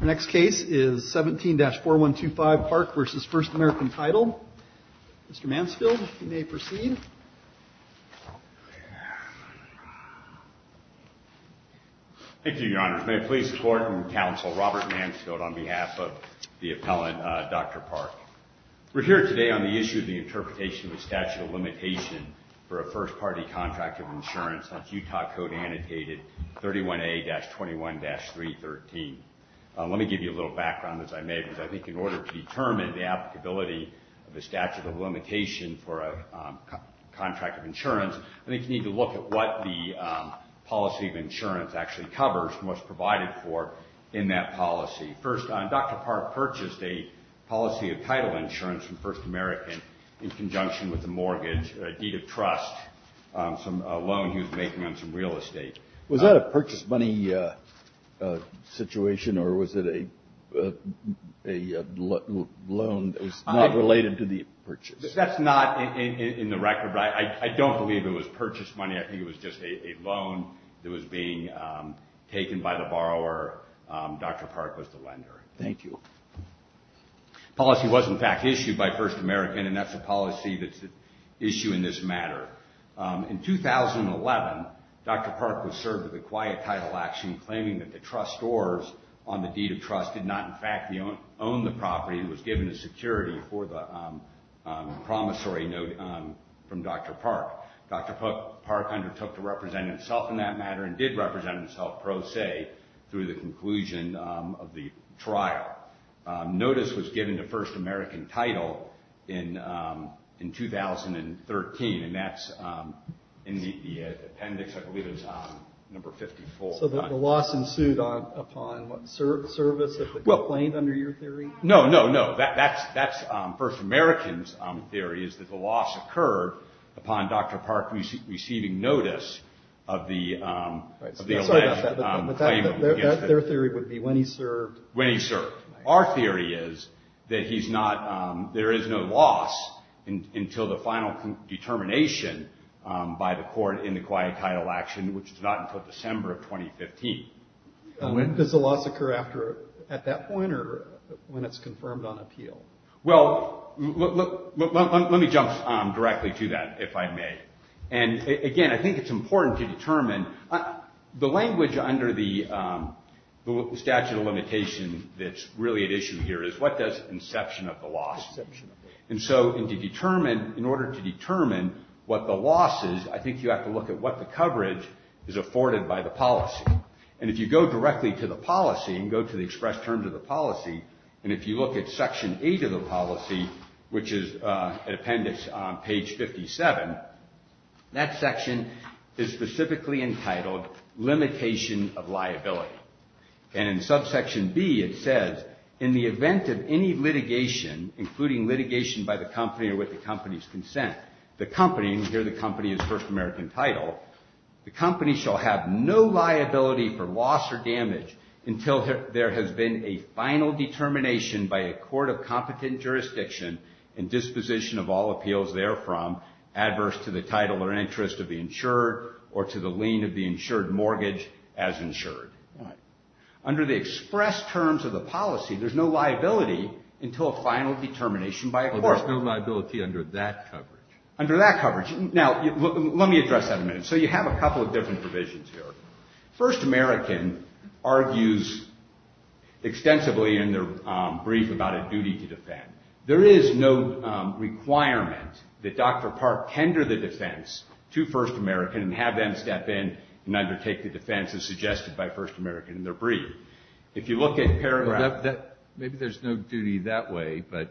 The next case is 17-4125 Park v. First American Title. Mr. Mansfield, you may proceed. Thank you, Your Honors. May I please support and counsel Robert Mansfield on behalf of the appellant, Dr. Park. We're here today on the issue of the interpretation of the statute of limitation for a first-party contract of insurance since Utah code annotated 31A-21-313. Let me give you a little background as I may, because I think in order to determine the applicability of the statute of limitation for a contract of insurance, I think you need to look at what the policy of insurance actually covers and what's provided for in that policy. First, Dr. Park purchased a policy of title insurance from First American in conjunction with a mortgage, a deed of trust, a loan he was making on some real estate. Was that a purchase money situation or was it a loan that was not related to the purchase? That's not in the record. I don't believe it was purchase money. I think it was just a loan that was being taken by the borrower. Dr. Park was the lender. Thank you. Policy was, in fact, issued by First American, and that's a policy that's at issue in this matter. In 2011, Dr. Park was served with a quiet title action claiming that the trustors on the deed of trust did not, in fact, own the property and was given a security for the promissory note from Dr. Park. Dr. Park undertook to represent himself in that matter and did represent himself pro se through the conclusion of the trial. Notice was given to First American title in 2013, and that's in the appendix, I believe it was number 54. So the loss ensued upon what, service of the complaint under your theory? No, no, no. That's First American's theory is that the loss occurred upon Dr. Park receiving notice of the alleged claim. Their theory would be when he served. When he served. Our theory is that there is no loss until the final determination by the court in the quiet title action, which is not until December of 2015. Does the loss occur after, at that point, or when it's confirmed on appeal? Well, let me jump directly to that, if I may. And again, I think it's important to determine. The language under the statute of limitation that's really at issue here is what does inception of the loss. In order to determine what the loss is, I think you have to look at what the coverage is afforded by the policy. And if you go directly to the policy and go to the express terms of the policy, and if you look at Section 8 of the policy, which is an appendix on page 57, that section is specifically entitled limitation of liability. And in subsection B, it says, in the event of any litigation, including litigation by the company or with the company's consent, the company, and here the company is first American title, the company shall have no liability for loss or damage until there has been a final determination by a court of competent jurisdiction and disposition of all appeals therefrom, adverse to the title or interest of the insured or to the lien of the insured mortgage as insured. Under the express terms of the policy, there's no liability until a final determination by a court. There's no liability under that coverage. Under that coverage. Now, let me address that a minute. So you have a couple of different provisions here. First American argues extensively in their brief about a duty to defend. There is no requirement that Dr. Park tender the defense to first American and have them step in and undertake the defense as suggested by first American in their brief. If you look at paragraph. Maybe there's no duty that way, but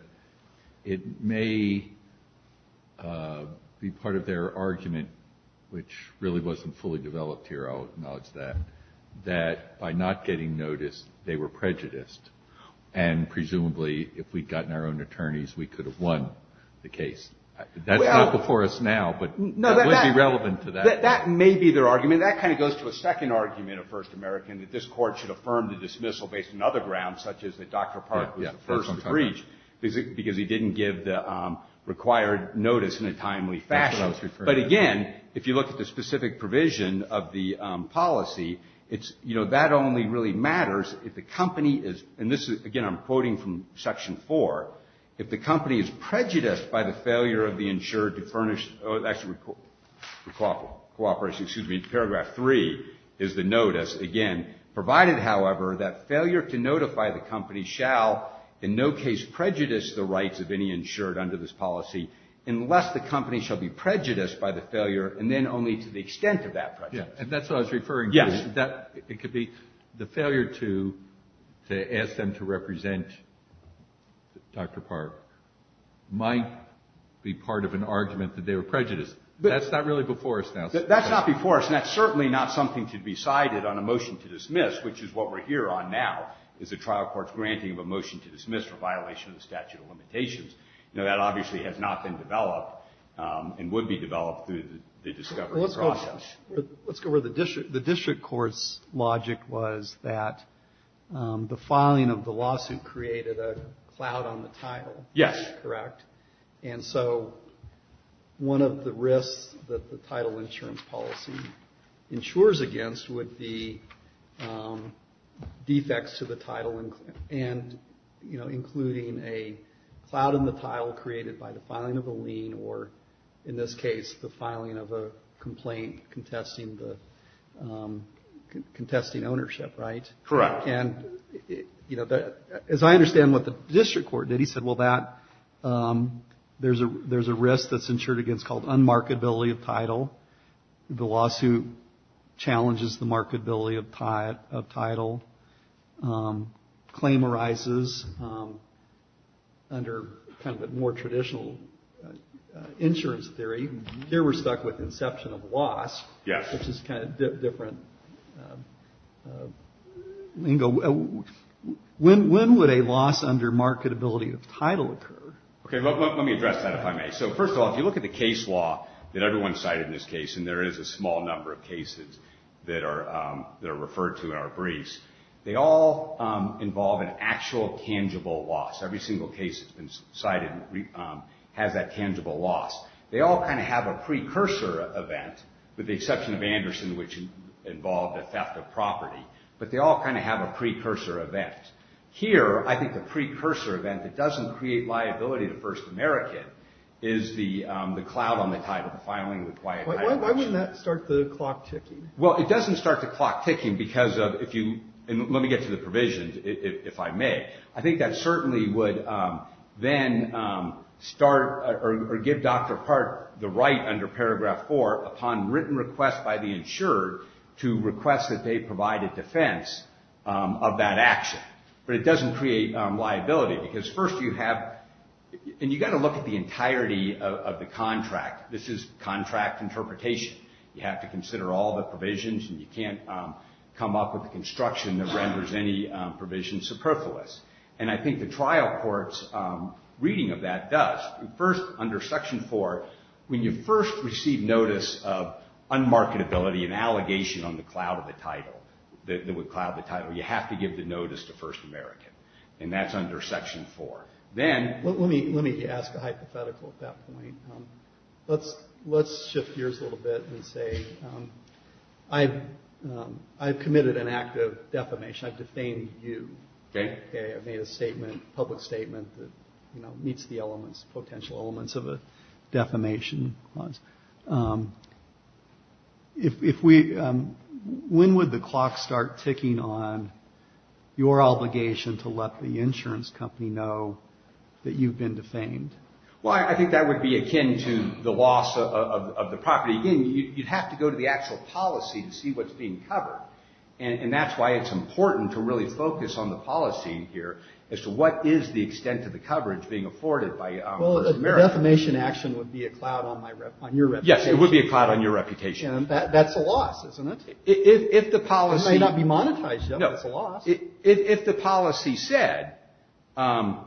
it may be part of their argument, which really wasn't fully developed here, I'll acknowledge that, that by not getting notice, they were prejudiced. And presumably, if we'd gotten our own attorneys, we could have won the case. That's not before us now, but it would be relevant to that. That may be their argument. I mean, that kind of goes to a second argument of first American, that this court should affirm the dismissal based on other grounds, such as that Dr. Park was the first to breach because he didn't give the required notice in a timely fashion. But again, if you look at the specific provision of the policy, it's, you know, that only really matters if the company is, and this is, again, I'm quoting from section four, if the company is prejudiced by the failure of the insured to furnish, actually cooperation, excuse me, paragraph three is the notice, again, provided, however, that failure to notify the company shall in no case prejudice the rights of any insured under this policy unless the company shall be prejudiced by the failure, and then only to the extent of that prejudice. And that's what I was referring to. Yes. It could be the failure to ask them to represent Dr. Park might be part of an argument that they were prejudiced. That's not really before us now. That's not before us, and that's certainly not something to be cited on a motion to dismiss, which is what we're here on now is a trial court's granting of a motion to dismiss for violation of the statute of limitations. You know, that obviously has not been developed and would be developed through the discovery process. Let's go where the district court's logic was that the filing of the lawsuit created a cloud on the title. Yes. Correct. And so one of the risks that the title insurance policy insures against would be defects to the title and, you know, including a cloud in the tile created by the filing of a lien or, in this case, the filing of a complaint contesting ownership, right? Correct. And, you know, as I understand what the district court did, he said, well, there's a risk that's insured against called unmarked ability of title. The lawsuit challenges the marked ability of title. Claim arises under kind of a more traditional insurance theory. Here we're stuck with inception of loss. Yes. Which is kind of a different lingo. When would a loss under marked ability of title occur? Okay. Let me address that, if I may. So, first of all, if you look at the case law that everyone cited in this case, and there is a small number of cases that are referred to in our briefs, they all involve an actual tangible loss. Every single case that's been cited has that tangible loss. They all kind of have a precursor event, with the exception of Anderson, which involved a theft of property. But they all kind of have a precursor event. Here, I think the precursor event that doesn't create liability to First American is the cloud on the title, the filing of the client title. Why wouldn't that start the clock ticking? Well, it doesn't start the clock ticking because of, if you, and let me get to the provisions, if I may. I think that certainly would then start, or give Dr. Park the right under paragraph four, upon written request by the insurer to request that they provide a defense of that action. But it doesn't create liability, because first you have, and you've got to look at the entirety of the contract. This is contract interpretation. You have to consider all the provisions, and you can't come up with a construction that renders any provision superfluous. And I think the trial court's reading of that does. First, under section four, when you first receive notice of unmarketability, an allegation on the cloud of the title, that would cloud the title, you have to give the notice to First American. And that's under section four. Let me ask a hypothetical at that point. Let's shift gears a little bit and say I've committed an act of defamation. I've defamed you. Okay. I've made a statement, public statement, that meets the elements, potential elements of a defamation clause. If we, when would the clock start ticking on your obligation to let the insurance company know that you've been defamed? Well, I think that would be akin to the loss of the property. Again, you'd have to go to the actual policy to see what's being covered. And that's why it's important to really focus on the policy here as to what is the extent of the coverage being afforded by First American. A defamation action would be a cloud on your reputation. Yes, it would be a cloud on your reputation. That's a loss, isn't it? It may not be monetized yet, but it's a loss. If the policy said that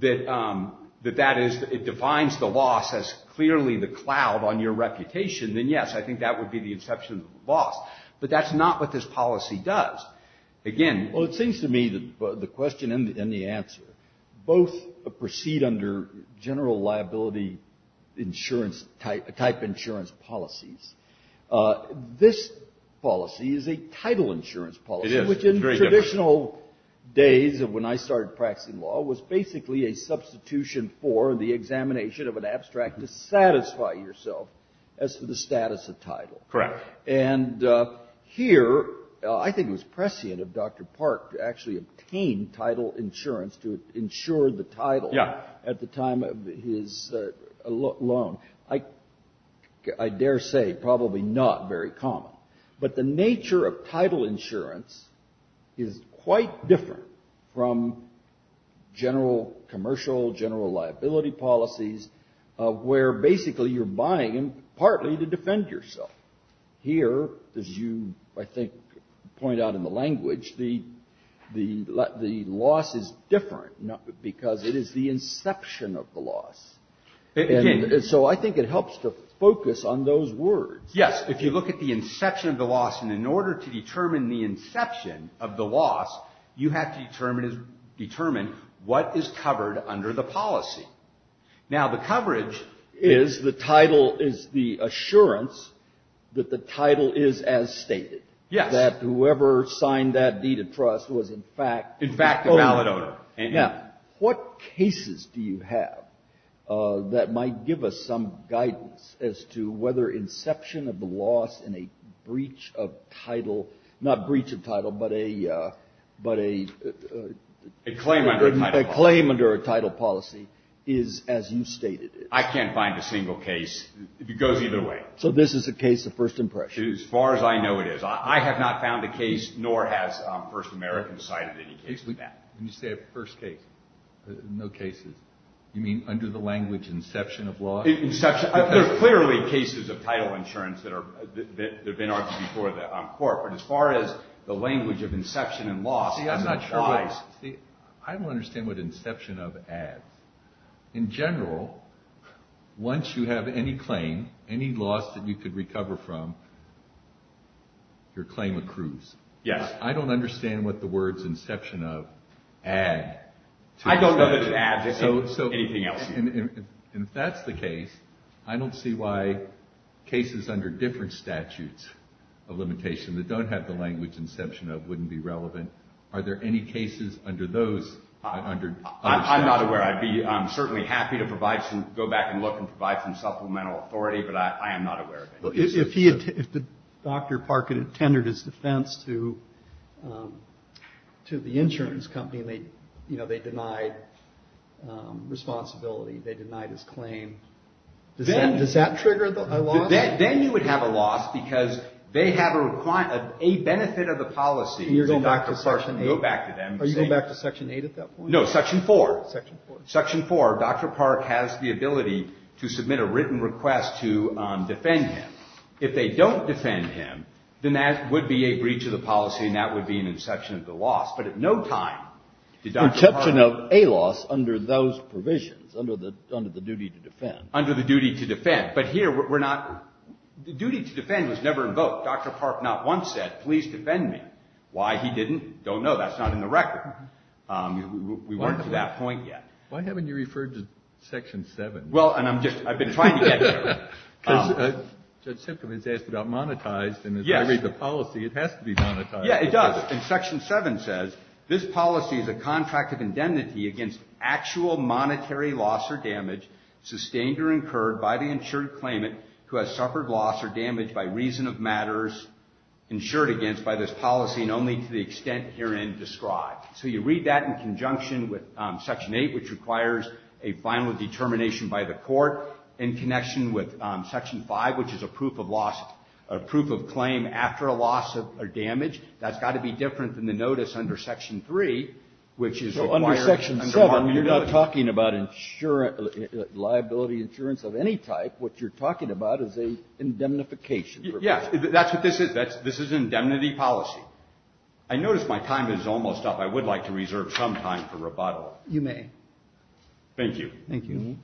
it defines the loss as clearly the cloud on your reputation, then yes, I think that would be the inception of the loss. But that's not what this policy does. Again, well, it seems to me that the question and the answer both proceed under general liability insurance type insurance policies. This policy is a title insurance policy, which in traditional days of when I started practicing law was basically a substitution for the examination of an abstract to satisfy yourself as to the status of title. Correct. And here, I think it was prescient of Dr. Park to actually obtain title insurance to insure the title at the time of his loan. I dare say probably not very common. But the nature of title insurance is quite different from general commercial, general liability policies where basically you're buying partly to defend yourself. Here, as you, I think, point out in the language, the loss is different because it is the inception of the loss. And so I think it helps to focus on those words. Yes, if you look at the inception of the loss, and in order to determine the inception of the loss, you have to determine what is covered under the policy. Now, the coverage is the title is the assurance that the title is as stated. Yes. That whoever signed that deed of trust was in fact a valid owner. Now, what cases do you have that might give us some guidance as to whether inception of the loss in a breach of title, not breach of title, but a claim under a title policy is as you stated it? I can't find a single case. It goes either way. So this is a case of first impression? As far as I know it is. I have not found a case, nor has First American cited any case like that. You say a first case. No cases. You mean under the language inception of loss? Inception. There are clearly cases of title insurance that have been argued before the court. But as far as the language of inception and loss as it applies. See, I'm not sure. See, I don't understand what inception of adds. In general, once you have any claim, any loss that you could recover from, your claim accrues. Yes. I don't understand what the words inception of add. I don't know that it adds anything else. And if that's the case, I don't see why cases under different statutes of limitation that don't have the language inception of wouldn't be relevant. Are there any cases under those, under other statutes? I'm not aware. I'd be certainly happy to provide some, go back and look and provide some supplemental authority, but I am not aware of it. If Dr. Park had attended his defense to the insurance company and they denied responsibility, they denied his claim, does that trigger a loss? Then you would have a loss because they have a benefit of the policy. And you're going back to Section 8? Go back to them. Are you going back to Section 8 at that point? No, Section 4. Section 4. Dr. Park has the ability to submit a written request to defend him. If they don't defend him, then that would be a breach of the policy and that would be an inception of the loss. But at no time did Dr. Park. Inception of a loss under those provisions, under the duty to defend. Under the duty to defend. But here we're not, the duty to defend was never invoked. Dr. Park not once said, please defend me. Why he didn't, don't know. That's not in the record. We weren't to that point yet. Why haven't you referred to Section 7? Well, and I'm just, I've been trying to get here. Because Judge Simcom has asked about monetized. Yes. And as I read the policy, it has to be monetized. Yeah, it does. And Section 7 says, this policy is a contract of indemnity against actual monetary loss or damage sustained or incurred by the insured claimant who has suffered loss or damage by reason of matters insured against by this policy and only to the extent herein described. So you read that in conjunction with Section 8, which requires a final determination by the court in connection with Section 5, which is a proof of loss, a proof of claim after a loss or damage. That's got to be different than the notice under Section 3, which is required. Under Section 7, you're not talking about insurance, liability insurance of any type. What you're talking about is an indemnification. Yes. That's what this is. This is an indemnity policy. I notice my time is almost up. I would like to reserve some time for rebuttal. You may. Thank you. Thank you.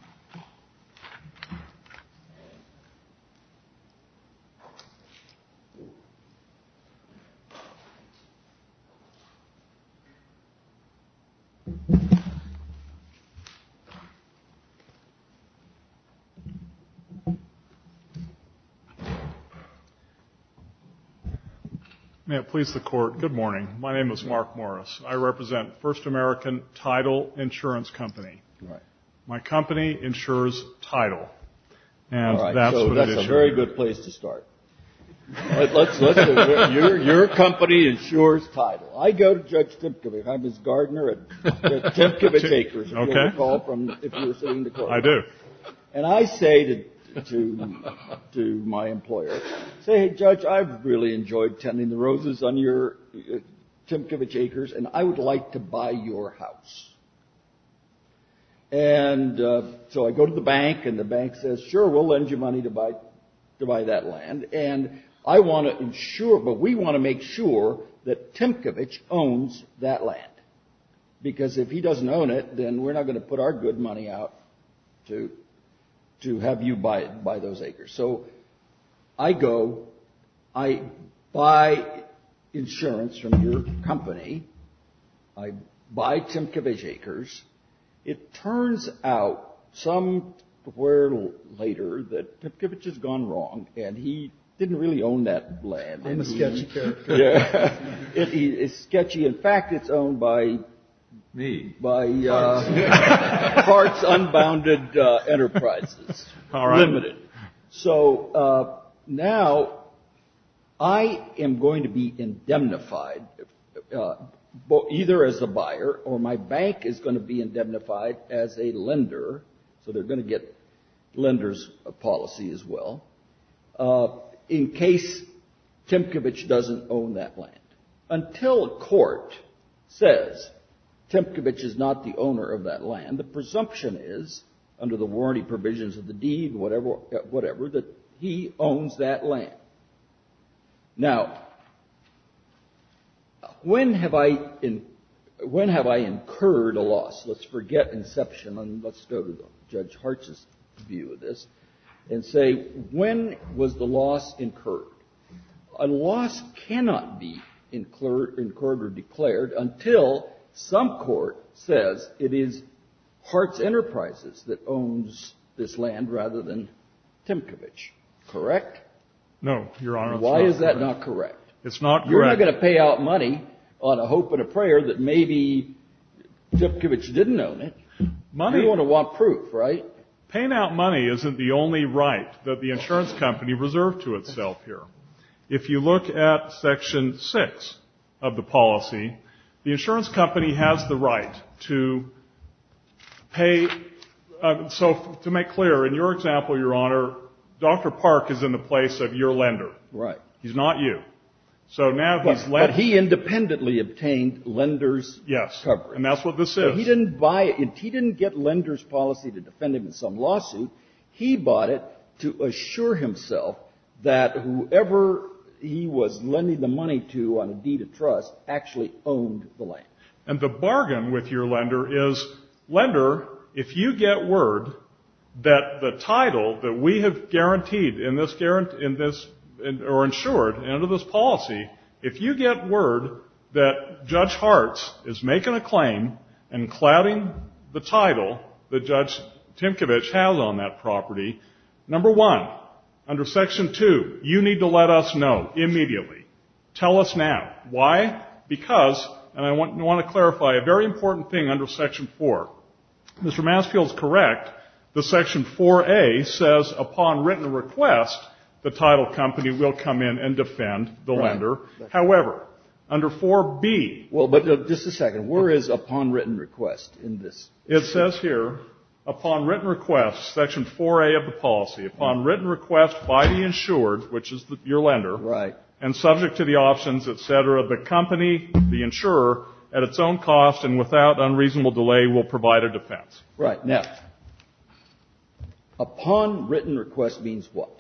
May it please the Court, good morning. My name is Mark Morris. I represent First American Title Insurance Company. Right. My company insures title. All right. So that's a very good place to start. Your company insures title. I go to Judge Tymkiewicz. I'm his gardener at Tymkiewicz Acres. Okay. If you were sitting in the courtroom. I do. And I say to my employer, say, hey, Judge, I've really enjoyed tending the roses on your Tymkiewicz Acres, and I would like to buy your house. And so I go to the bank, and the bank says, sure, we'll lend you money to buy that land. And I want to insure, but we want to make sure that Tymkiewicz owns that land. Because if he doesn't own it, then we're not going to put our good money out to have you buy those acres. So I go, I buy insurance from your company. I buy Tymkiewicz Acres. It turns out somewhere later that Tymkiewicz has gone wrong, and he didn't really own that land. I'm a sketchy character. Yeah. It's sketchy. In fact, it's owned by. Me. By. Parts. Parts Unbounded Enterprises. All right. Limited. So now I am going to be indemnified either as a buyer, or my bank is going to be indemnified as a lender. So they're going to get lender's policy as well, in case Tymkiewicz doesn't own that land. Until a court says Tymkiewicz is not the owner of that land, the presumption is, under the warranty provisions of the deed, whatever, that he owns that land. Now, when have I incurred a loss? Let's forget inception, and let's go to Judge Hartz's view of this, and say, when was the loss incurred? A loss cannot be incurred or declared until some court says it is Hartz Enterprises that owns this land rather than Tymkiewicz. Correct? No, Your Honor. Why is that not correct? It's not correct. You're not going to pay out money on a hope and a prayer that maybe Tymkiewicz didn't own it. Money. You want to want proof, right? Well, paying out money isn't the only right that the insurance company reserved to itself here. If you look at Section 6 of the policy, the insurance company has the right to pay so to make clear, in your example, Your Honor, Dr. Park is in the place of your lender. Right. He's not you. So now he's lending. But he independently obtained lender's coverage. Yes, and that's what this is. He didn't buy it. He didn't get lender's policy to defend him in some lawsuit. He bought it to assure himself that whoever he was lending the money to on a deed of trust actually owned the land. And the bargain with your lender is, lender, if you get word that the title that we have guaranteed in this or insured under this policy, if you get word that Judge Hartz is making a claim and clouding the title that Judge Tymkiewicz has on that property, number one, under Section 2, you need to let us know immediately. Tell us now. Why? Because, and I want to clarify a very important thing under Section 4. Mr. Massfield's correct. The Section 4A says, upon written request, the title company will come in and defend the lender. However, under 4B. Well, but just a second. Where is upon written request in this? It says here, upon written request, Section 4A of the policy, upon written request by the insured, which is your lender. Right. And subject to the options, et cetera, the company, the insurer, at its own cost and without unreasonable delay will provide a defense. Right. Now, upon written request means what?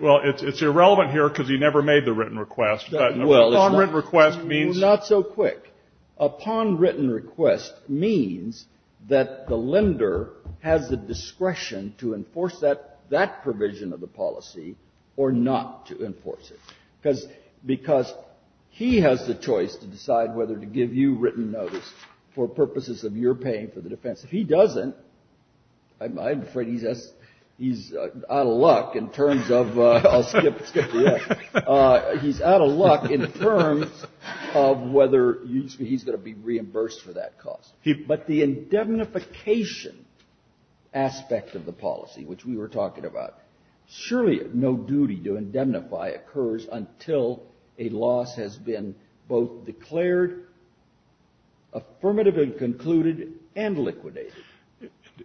Well, it's irrelevant here because he never made the written request. Well, it's not. Upon written request means. Not so quick. Upon written request means that the lender has the discretion to enforce that provision of the policy or not to enforce it, because he has the choice to decide whether to give you written notice for purposes of your paying for the defense. If he doesn't, I'm afraid he's out of luck in terms of the terms of whether he's going to be reimbursed for that cost. But the indemnification aspect of the policy, which we were talking about, surely no duty to indemnify occurs until a loss has been both declared, affirmative and concluded, and liquidated.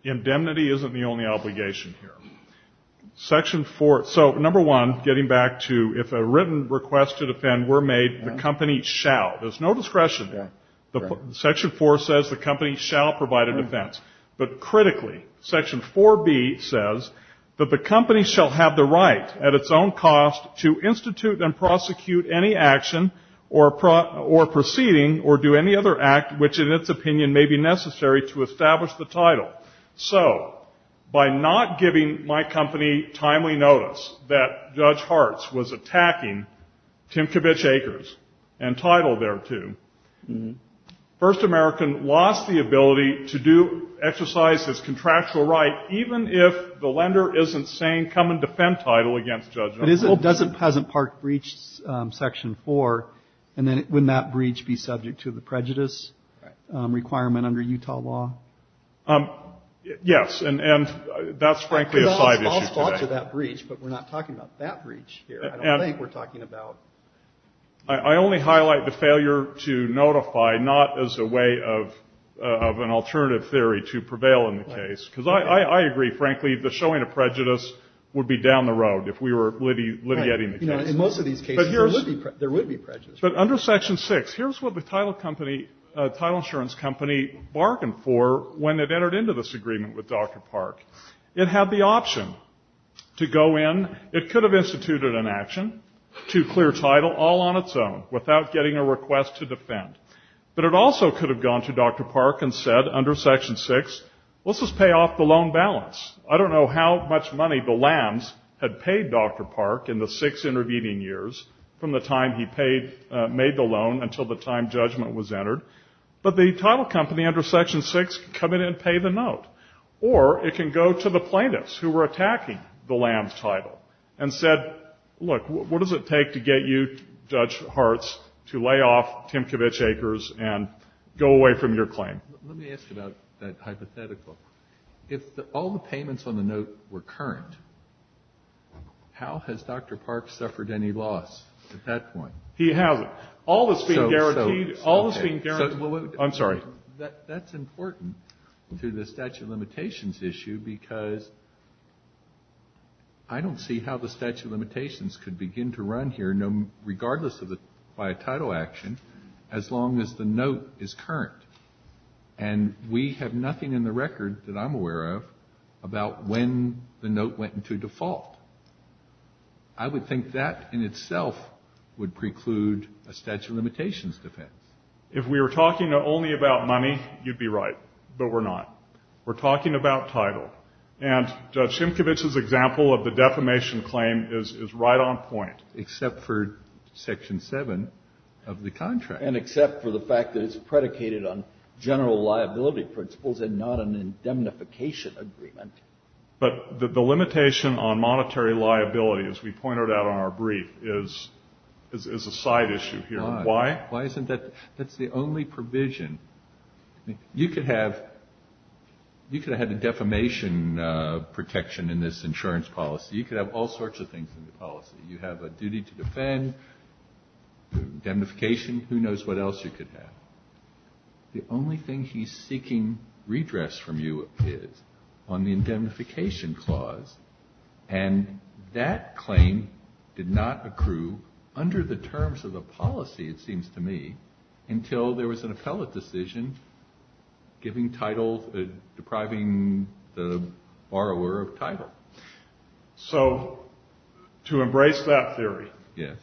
Indemnity isn't the only obligation here. Section 4, so number one, getting back to if a written request to defend were made, the company shall. There's no discretion there. Section 4 says the company shall provide a defense. But critically, Section 4B says that the company shall have the right at its own cost to institute and prosecute any action or proceeding or do any other act which in its opinion may be necessary to establish the title. So by not giving my company timely notice that Judge Hartz was attacking Timkovich Acres and title thereto, First American lost the ability to do exercise his contractual right, even if the lender isn't saying come and defend title against Judge Hartz. But doesn't Peasant Park breach Section 4? And then wouldn't that breach be subject to the prejudice requirement under Utah law? Yes, and that's frankly a side issue today. I'll spot to that breach, but we're not talking about that breach here. I don't think we're talking about. I only highlight the failure to notify, not as a way of an alternative theory to prevail in the case. Because I agree, frankly, the showing of prejudice would be down the road if we were litigating the case. In most of these cases there would be prejudice. But under Section 6, here's what the title insurance company bargained for when it entered into this agreement with Dr. Park. It had the option to go in. It could have instituted an action to clear title all on its own without getting a request to defend. But it also could have gone to Dr. Park and said under Section 6, let's just pay off the loan balance. I don't know how much money the Lambs had paid Dr. Park in the six intervening years from the time he paid, made the loan until the time judgment was entered. But the title company under Section 6 could come in and pay the note. Or it can go to the plaintiffs who were attacking the Lambs' title and said, look, what does it take to get you, Judge Hartz, to lay off Timkovich Acres and go away from your claim? Let me ask about that hypothetical. If all the payments on the note were current, how has Dr. Park suffered any loss at that point? He hasn't. All is being guaranteed. I'm sorry. That's important to the statute of limitations issue because I don't see how the statute of limitations could begin to run here, regardless of the title action, as long as the note is current. And we have nothing in the record that I'm aware of about when the note went into default. I would think that in itself would preclude a statute of limitations defense. If we were talking only about money, you'd be right. But we're not. We're talking about title. And Judge Timkovich's example of the defamation claim is right on point. Except for Section 7 of the contract. And except for the fact that it's predicated on general liability principles and not an indemnification agreement. But the limitation on monetary liability, as we pointed out on our brief, is a side issue here. Why? Why isn't that? That's the only provision. You could have had a defamation protection in this insurance policy. You could have all sorts of things in the policy. You have a duty to defend, indemnification, who knows what else you could have. The only thing he's seeking redress from you is on the indemnification clause. And that claim did not accrue under the terms of the policy, it seems to me, until there was an appellate decision giving title, depriving the borrower of title. So to embrace that theory,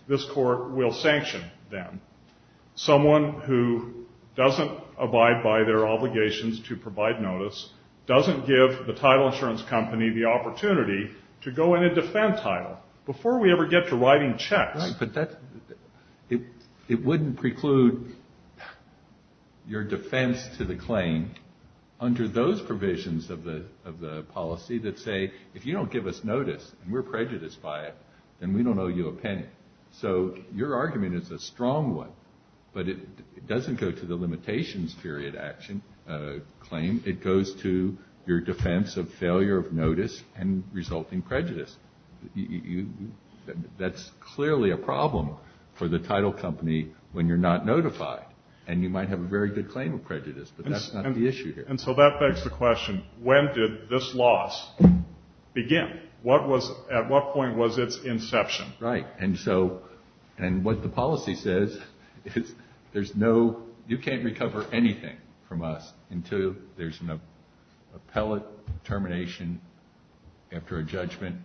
this Court will sanction them. Someone who doesn't abide by their obligations to provide notice, doesn't give the title insurance company the opportunity to go in and defend title before we ever get to writing checks. Right, but it wouldn't preclude your defense to the claim under those provisions of the policy that say, if you don't give us notice and we're prejudiced by it, then we don't owe you a penny. So your argument is a strong one, but it doesn't go to the limitations period action claim. It goes to your defense of failure of notice and resulting prejudice. That's clearly a problem for the title company when you're not notified, and you might have a very good claim of prejudice, but that's not the issue here. And so that begs the question, when did this loss begin? At what point was its inception? Right, and so what the policy says is you can't recover anything from us until there's an appellate termination after a judgment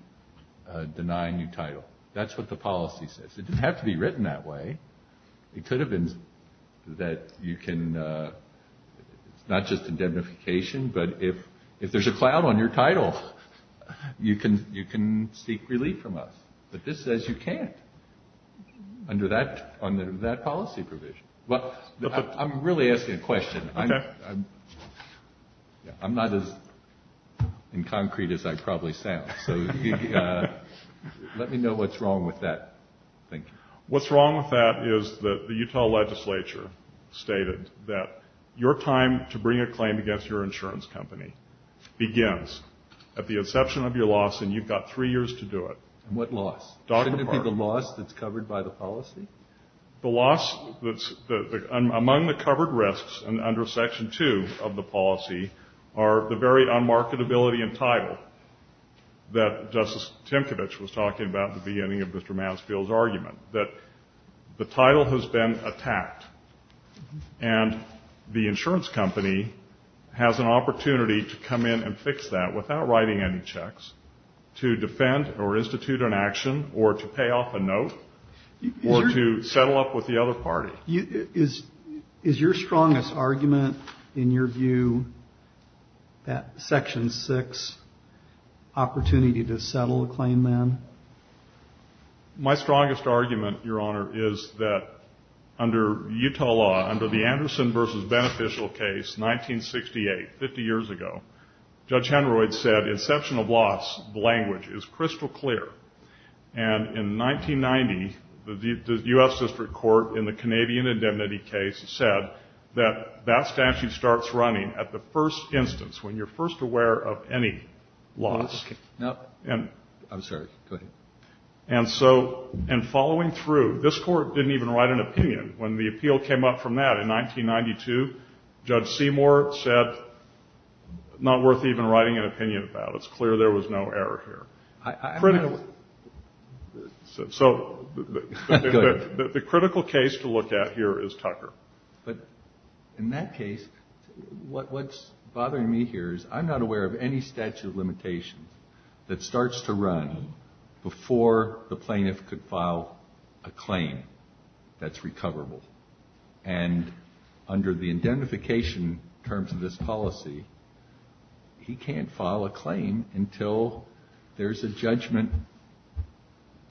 denying you title. That's what the policy says. It didn't have to be written that way. It could have been that you can, it's not just indemnification, but if there's a cloud on your title, you can seek relief from us. But this says you can't under that policy provision. Well, I'm really asking a question. I'm not as in concrete as I probably sound. So let me know what's wrong with that. What's wrong with that is that the Utah legislature stated that your time to bring a claim against your insurance company begins at the inception of your loss, and you've got three years to do it. And what loss? Shouldn't it be the loss that's covered by the policy? The loss that's among the covered risks under Section 2 of the policy are the very unmarketability in title that Justice Timkovich was talking about at the beginning of Mr. Mansfield's argument, that the title has been attacked, and the insurance company has an opportunity to come in and fix that without writing any checks to defend or institute an action or to pay off a note or to settle up with the other party. Is your strongest argument in your view that Section 6 opportunity to settle a claim then? My strongest argument, Your Honor, is that under Utah law, under the Anderson v. Beneficial case, 1968, 50 years ago, Judge Henroyd said inception of loss, the language, is crystal clear. And in 1990, the U.S. District Court in the Canadian indemnity case said that that statute starts running at the first instance, when you're first aware of any loss. I'm sorry. Go ahead. And so in following through, this Court didn't even write an opinion. When the appeal came up from that in 1992, Judge Seymour said not worth even writing an opinion about. It's clear there was no error here. So the critical case to look at here is Tucker. But in that case, what's bothering me here is I'm not aware of any statute of limitations that starts to run before the plaintiff could file a claim that's recoverable. And under the indemnification terms of this policy, he can't file a claim until there's a judgment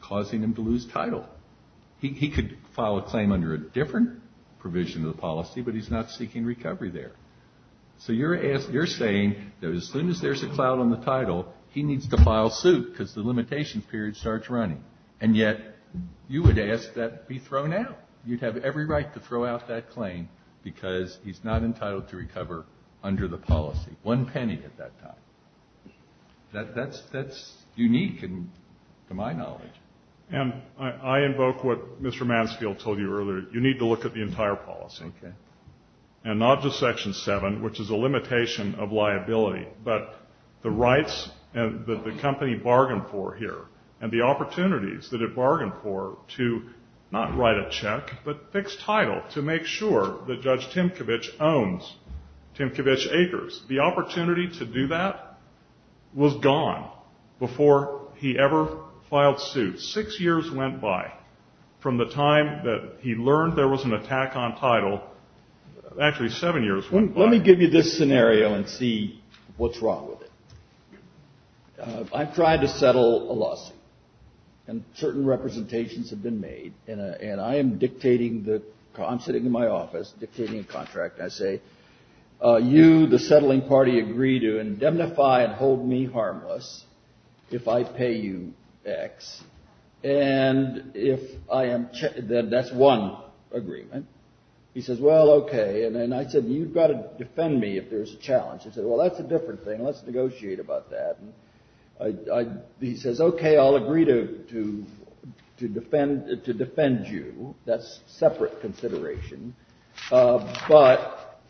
causing him to lose title. He could file a claim under a different provision of the policy, but he's not seeking recovery there. So you're saying that as soon as there's a cloud on the title, he needs to file suit because the limitations period starts running. And yet you would ask that be thrown out. You'd have every right to throw out that claim because he's not entitled to recover under the policy. One penny at that time. That's unique to my knowledge. And I invoke what Mr. Mansfield told you earlier. You need to look at the entire policy. Okay. And not just Section 7, which is a limitation of liability, but the rights that the company bargained for here and the opportunities that it bargained for to not write a check, but fix title, to make sure that Judge Timkovich owns Timkovich Acres. The opportunity to do that was gone before he ever filed suit. Six years went by from the time that he learned there was an attack on title. Actually, seven years went by. Let me give you this scenario and see what's wrong with it. I've tried to settle a lawsuit, and certain representations have been made. And I am dictating the – I'm sitting in my office dictating a contract. I say, you, the settling party, agree to indemnify and hold me harmless if I pay you X. And if I am – that's one agreement. He says, well, okay. And I said, you've got to defend me if there's a challenge. He said, well, that's a different thing. Let's negotiate about that. He says, okay, I'll agree to defend you. That's separate consideration. But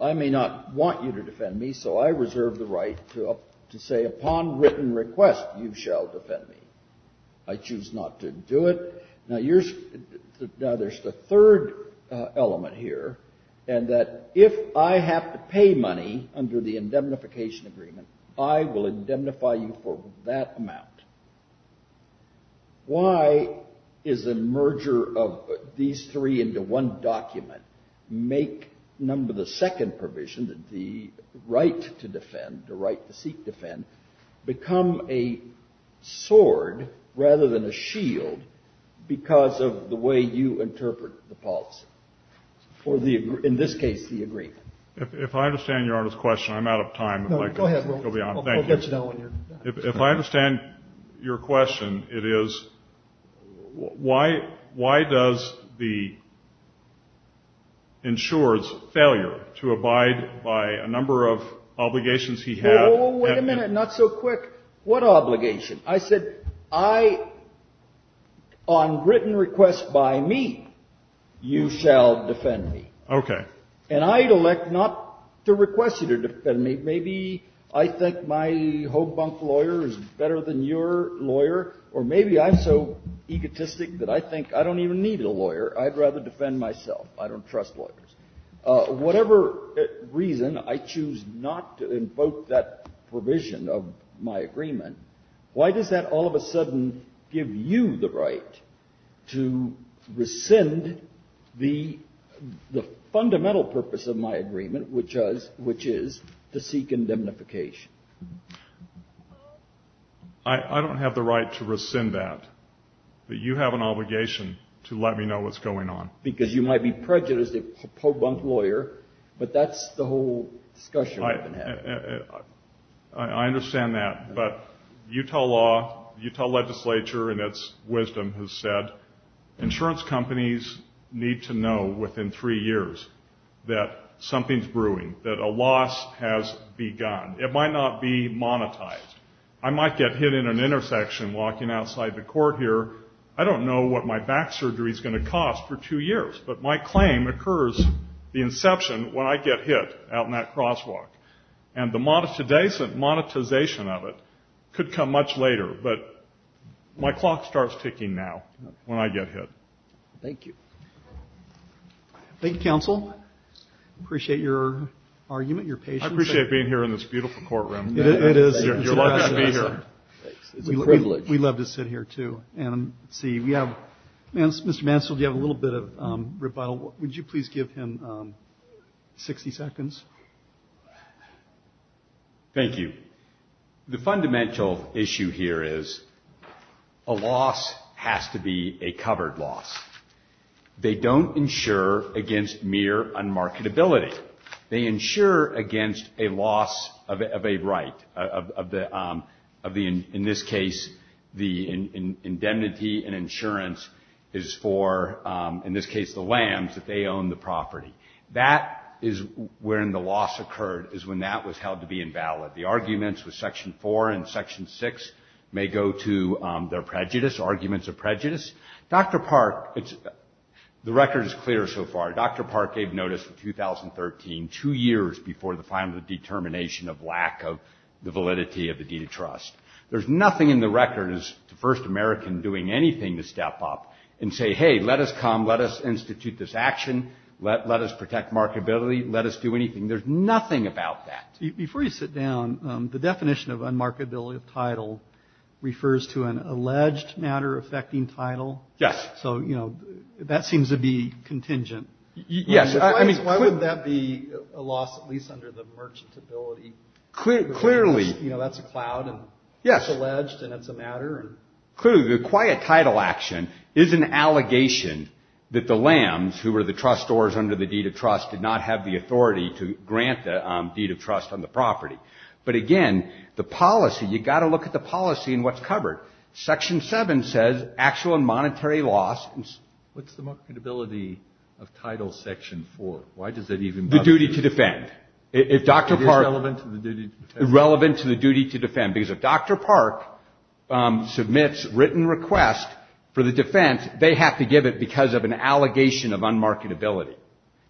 I may not want you to defend me, so I reserve the right to say, upon written request, you shall defend me. I choose not to do it. Now, there's the third element here, and that if I have to pay money under the indemnification agreement, I will indemnify you for that amount. Why is a merger of these three into one document make, number the second provision, the right to defend, the right to seek defend, become a sword rather than a shield because of the way you interpret the policy? In this case, the agreement. If I understand Your Honor's question, I'm out of time. No, go ahead. Thank you. If I understand your question, it is, why does the insurer's failure to abide by a number of obligations he had. Wait a minute. Not so quick. What obligation? I said, I, on written request by me, you shall defend me. Okay. And I'd elect not to request you to defend me. Maybe I think my ho-bunk lawyer is better than your lawyer, or maybe I'm so egotistic that I think I don't even need a lawyer. I'd rather defend myself. I don't trust lawyers. Whatever reason, I choose not to invoke that provision of my agreement. Why does that all of a sudden give you the right to rescind the fundamental purpose of my agreement, which is to seek indemnification? I don't have the right to rescind that. But you have an obligation to let me know what's going on. Because you might be prejudiced as a ho-bunk lawyer, but that's the whole discussion we've been having. I understand that. But Utah law, Utah legislature in its wisdom has said insurance companies need to know within three years that something's brewing, that a loss has begun. It might not be monetized. I might get hit in an intersection walking outside the court here. I don't know what my back surgery is going to cost for two years. But my claim occurs, the inception, when I get hit out in that crosswalk. And the monetization of it could come much later. But my clock starts ticking now when I get hit. Thank you. Thank you, counsel. I appreciate your argument, your patience. I appreciate being here in this beautiful courtroom. It is. You're lucky to be here. It's a privilege. We love to sit here, too. Mr. Mansfield, you have a little bit of rebuttal. Would you please give him 60 seconds? Thank you. The fundamental issue here is a loss has to be a covered loss. They don't insure against mere unmarketability. They insure against a loss of a right. In this case, the indemnity and insurance is for, in this case, the lambs, that they own the property. That is when the loss occurred, is when that was held to be invalid. The arguments with Section 4 and Section 6 may go to their prejudice, arguments of prejudice. Dr. Park, the record is clear so far. Dr. Park gave notice in 2013, two years before the final determination of lack of the validity of the deed of trust. There's nothing in the record as to First American doing anything to step up and say, hey, let us come. Let us institute this action. Let us protect marketability. Let us do anything. There's nothing about that. Before you sit down, the definition of unmarketability of title refers to an alleged matter affecting title. Yes. That seems to be contingent. Yes. Why would that be a loss, at least under the merchantability? Clearly. That's a cloud. Yes. It's alleged, and it's a matter. Clearly. The quiet title action is an allegation that the lambs, who were the trustors under the deed of trust, did not have the authority to grant the deed of trust on the property. But again, the policy, you've got to look at the policy and what's covered. Section 7 says actual and monetary loss. What's the marketability of title section 4? Why does that even matter? The duty to defend. Is it relevant to the duty to defend? It's relevant to the duty to defend. Because if Dr. Park submits written request for the defense, they have to give it because of an allegation of unmarketability.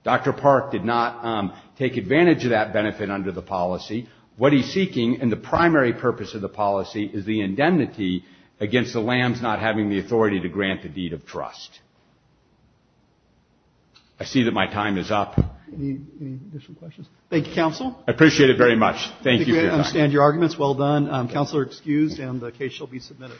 Dr. Park did not take advantage of that benefit under the policy. What he's seeking, and the primary purpose of the policy, is the indemnity against the lambs not having the authority to grant the deed of trust. I see that my time is up. Any additional questions? Thank you, counsel. I appreciate it very much. Thank you. I understand your arguments. Well done. Counsel are excused, and the case shall be submitted.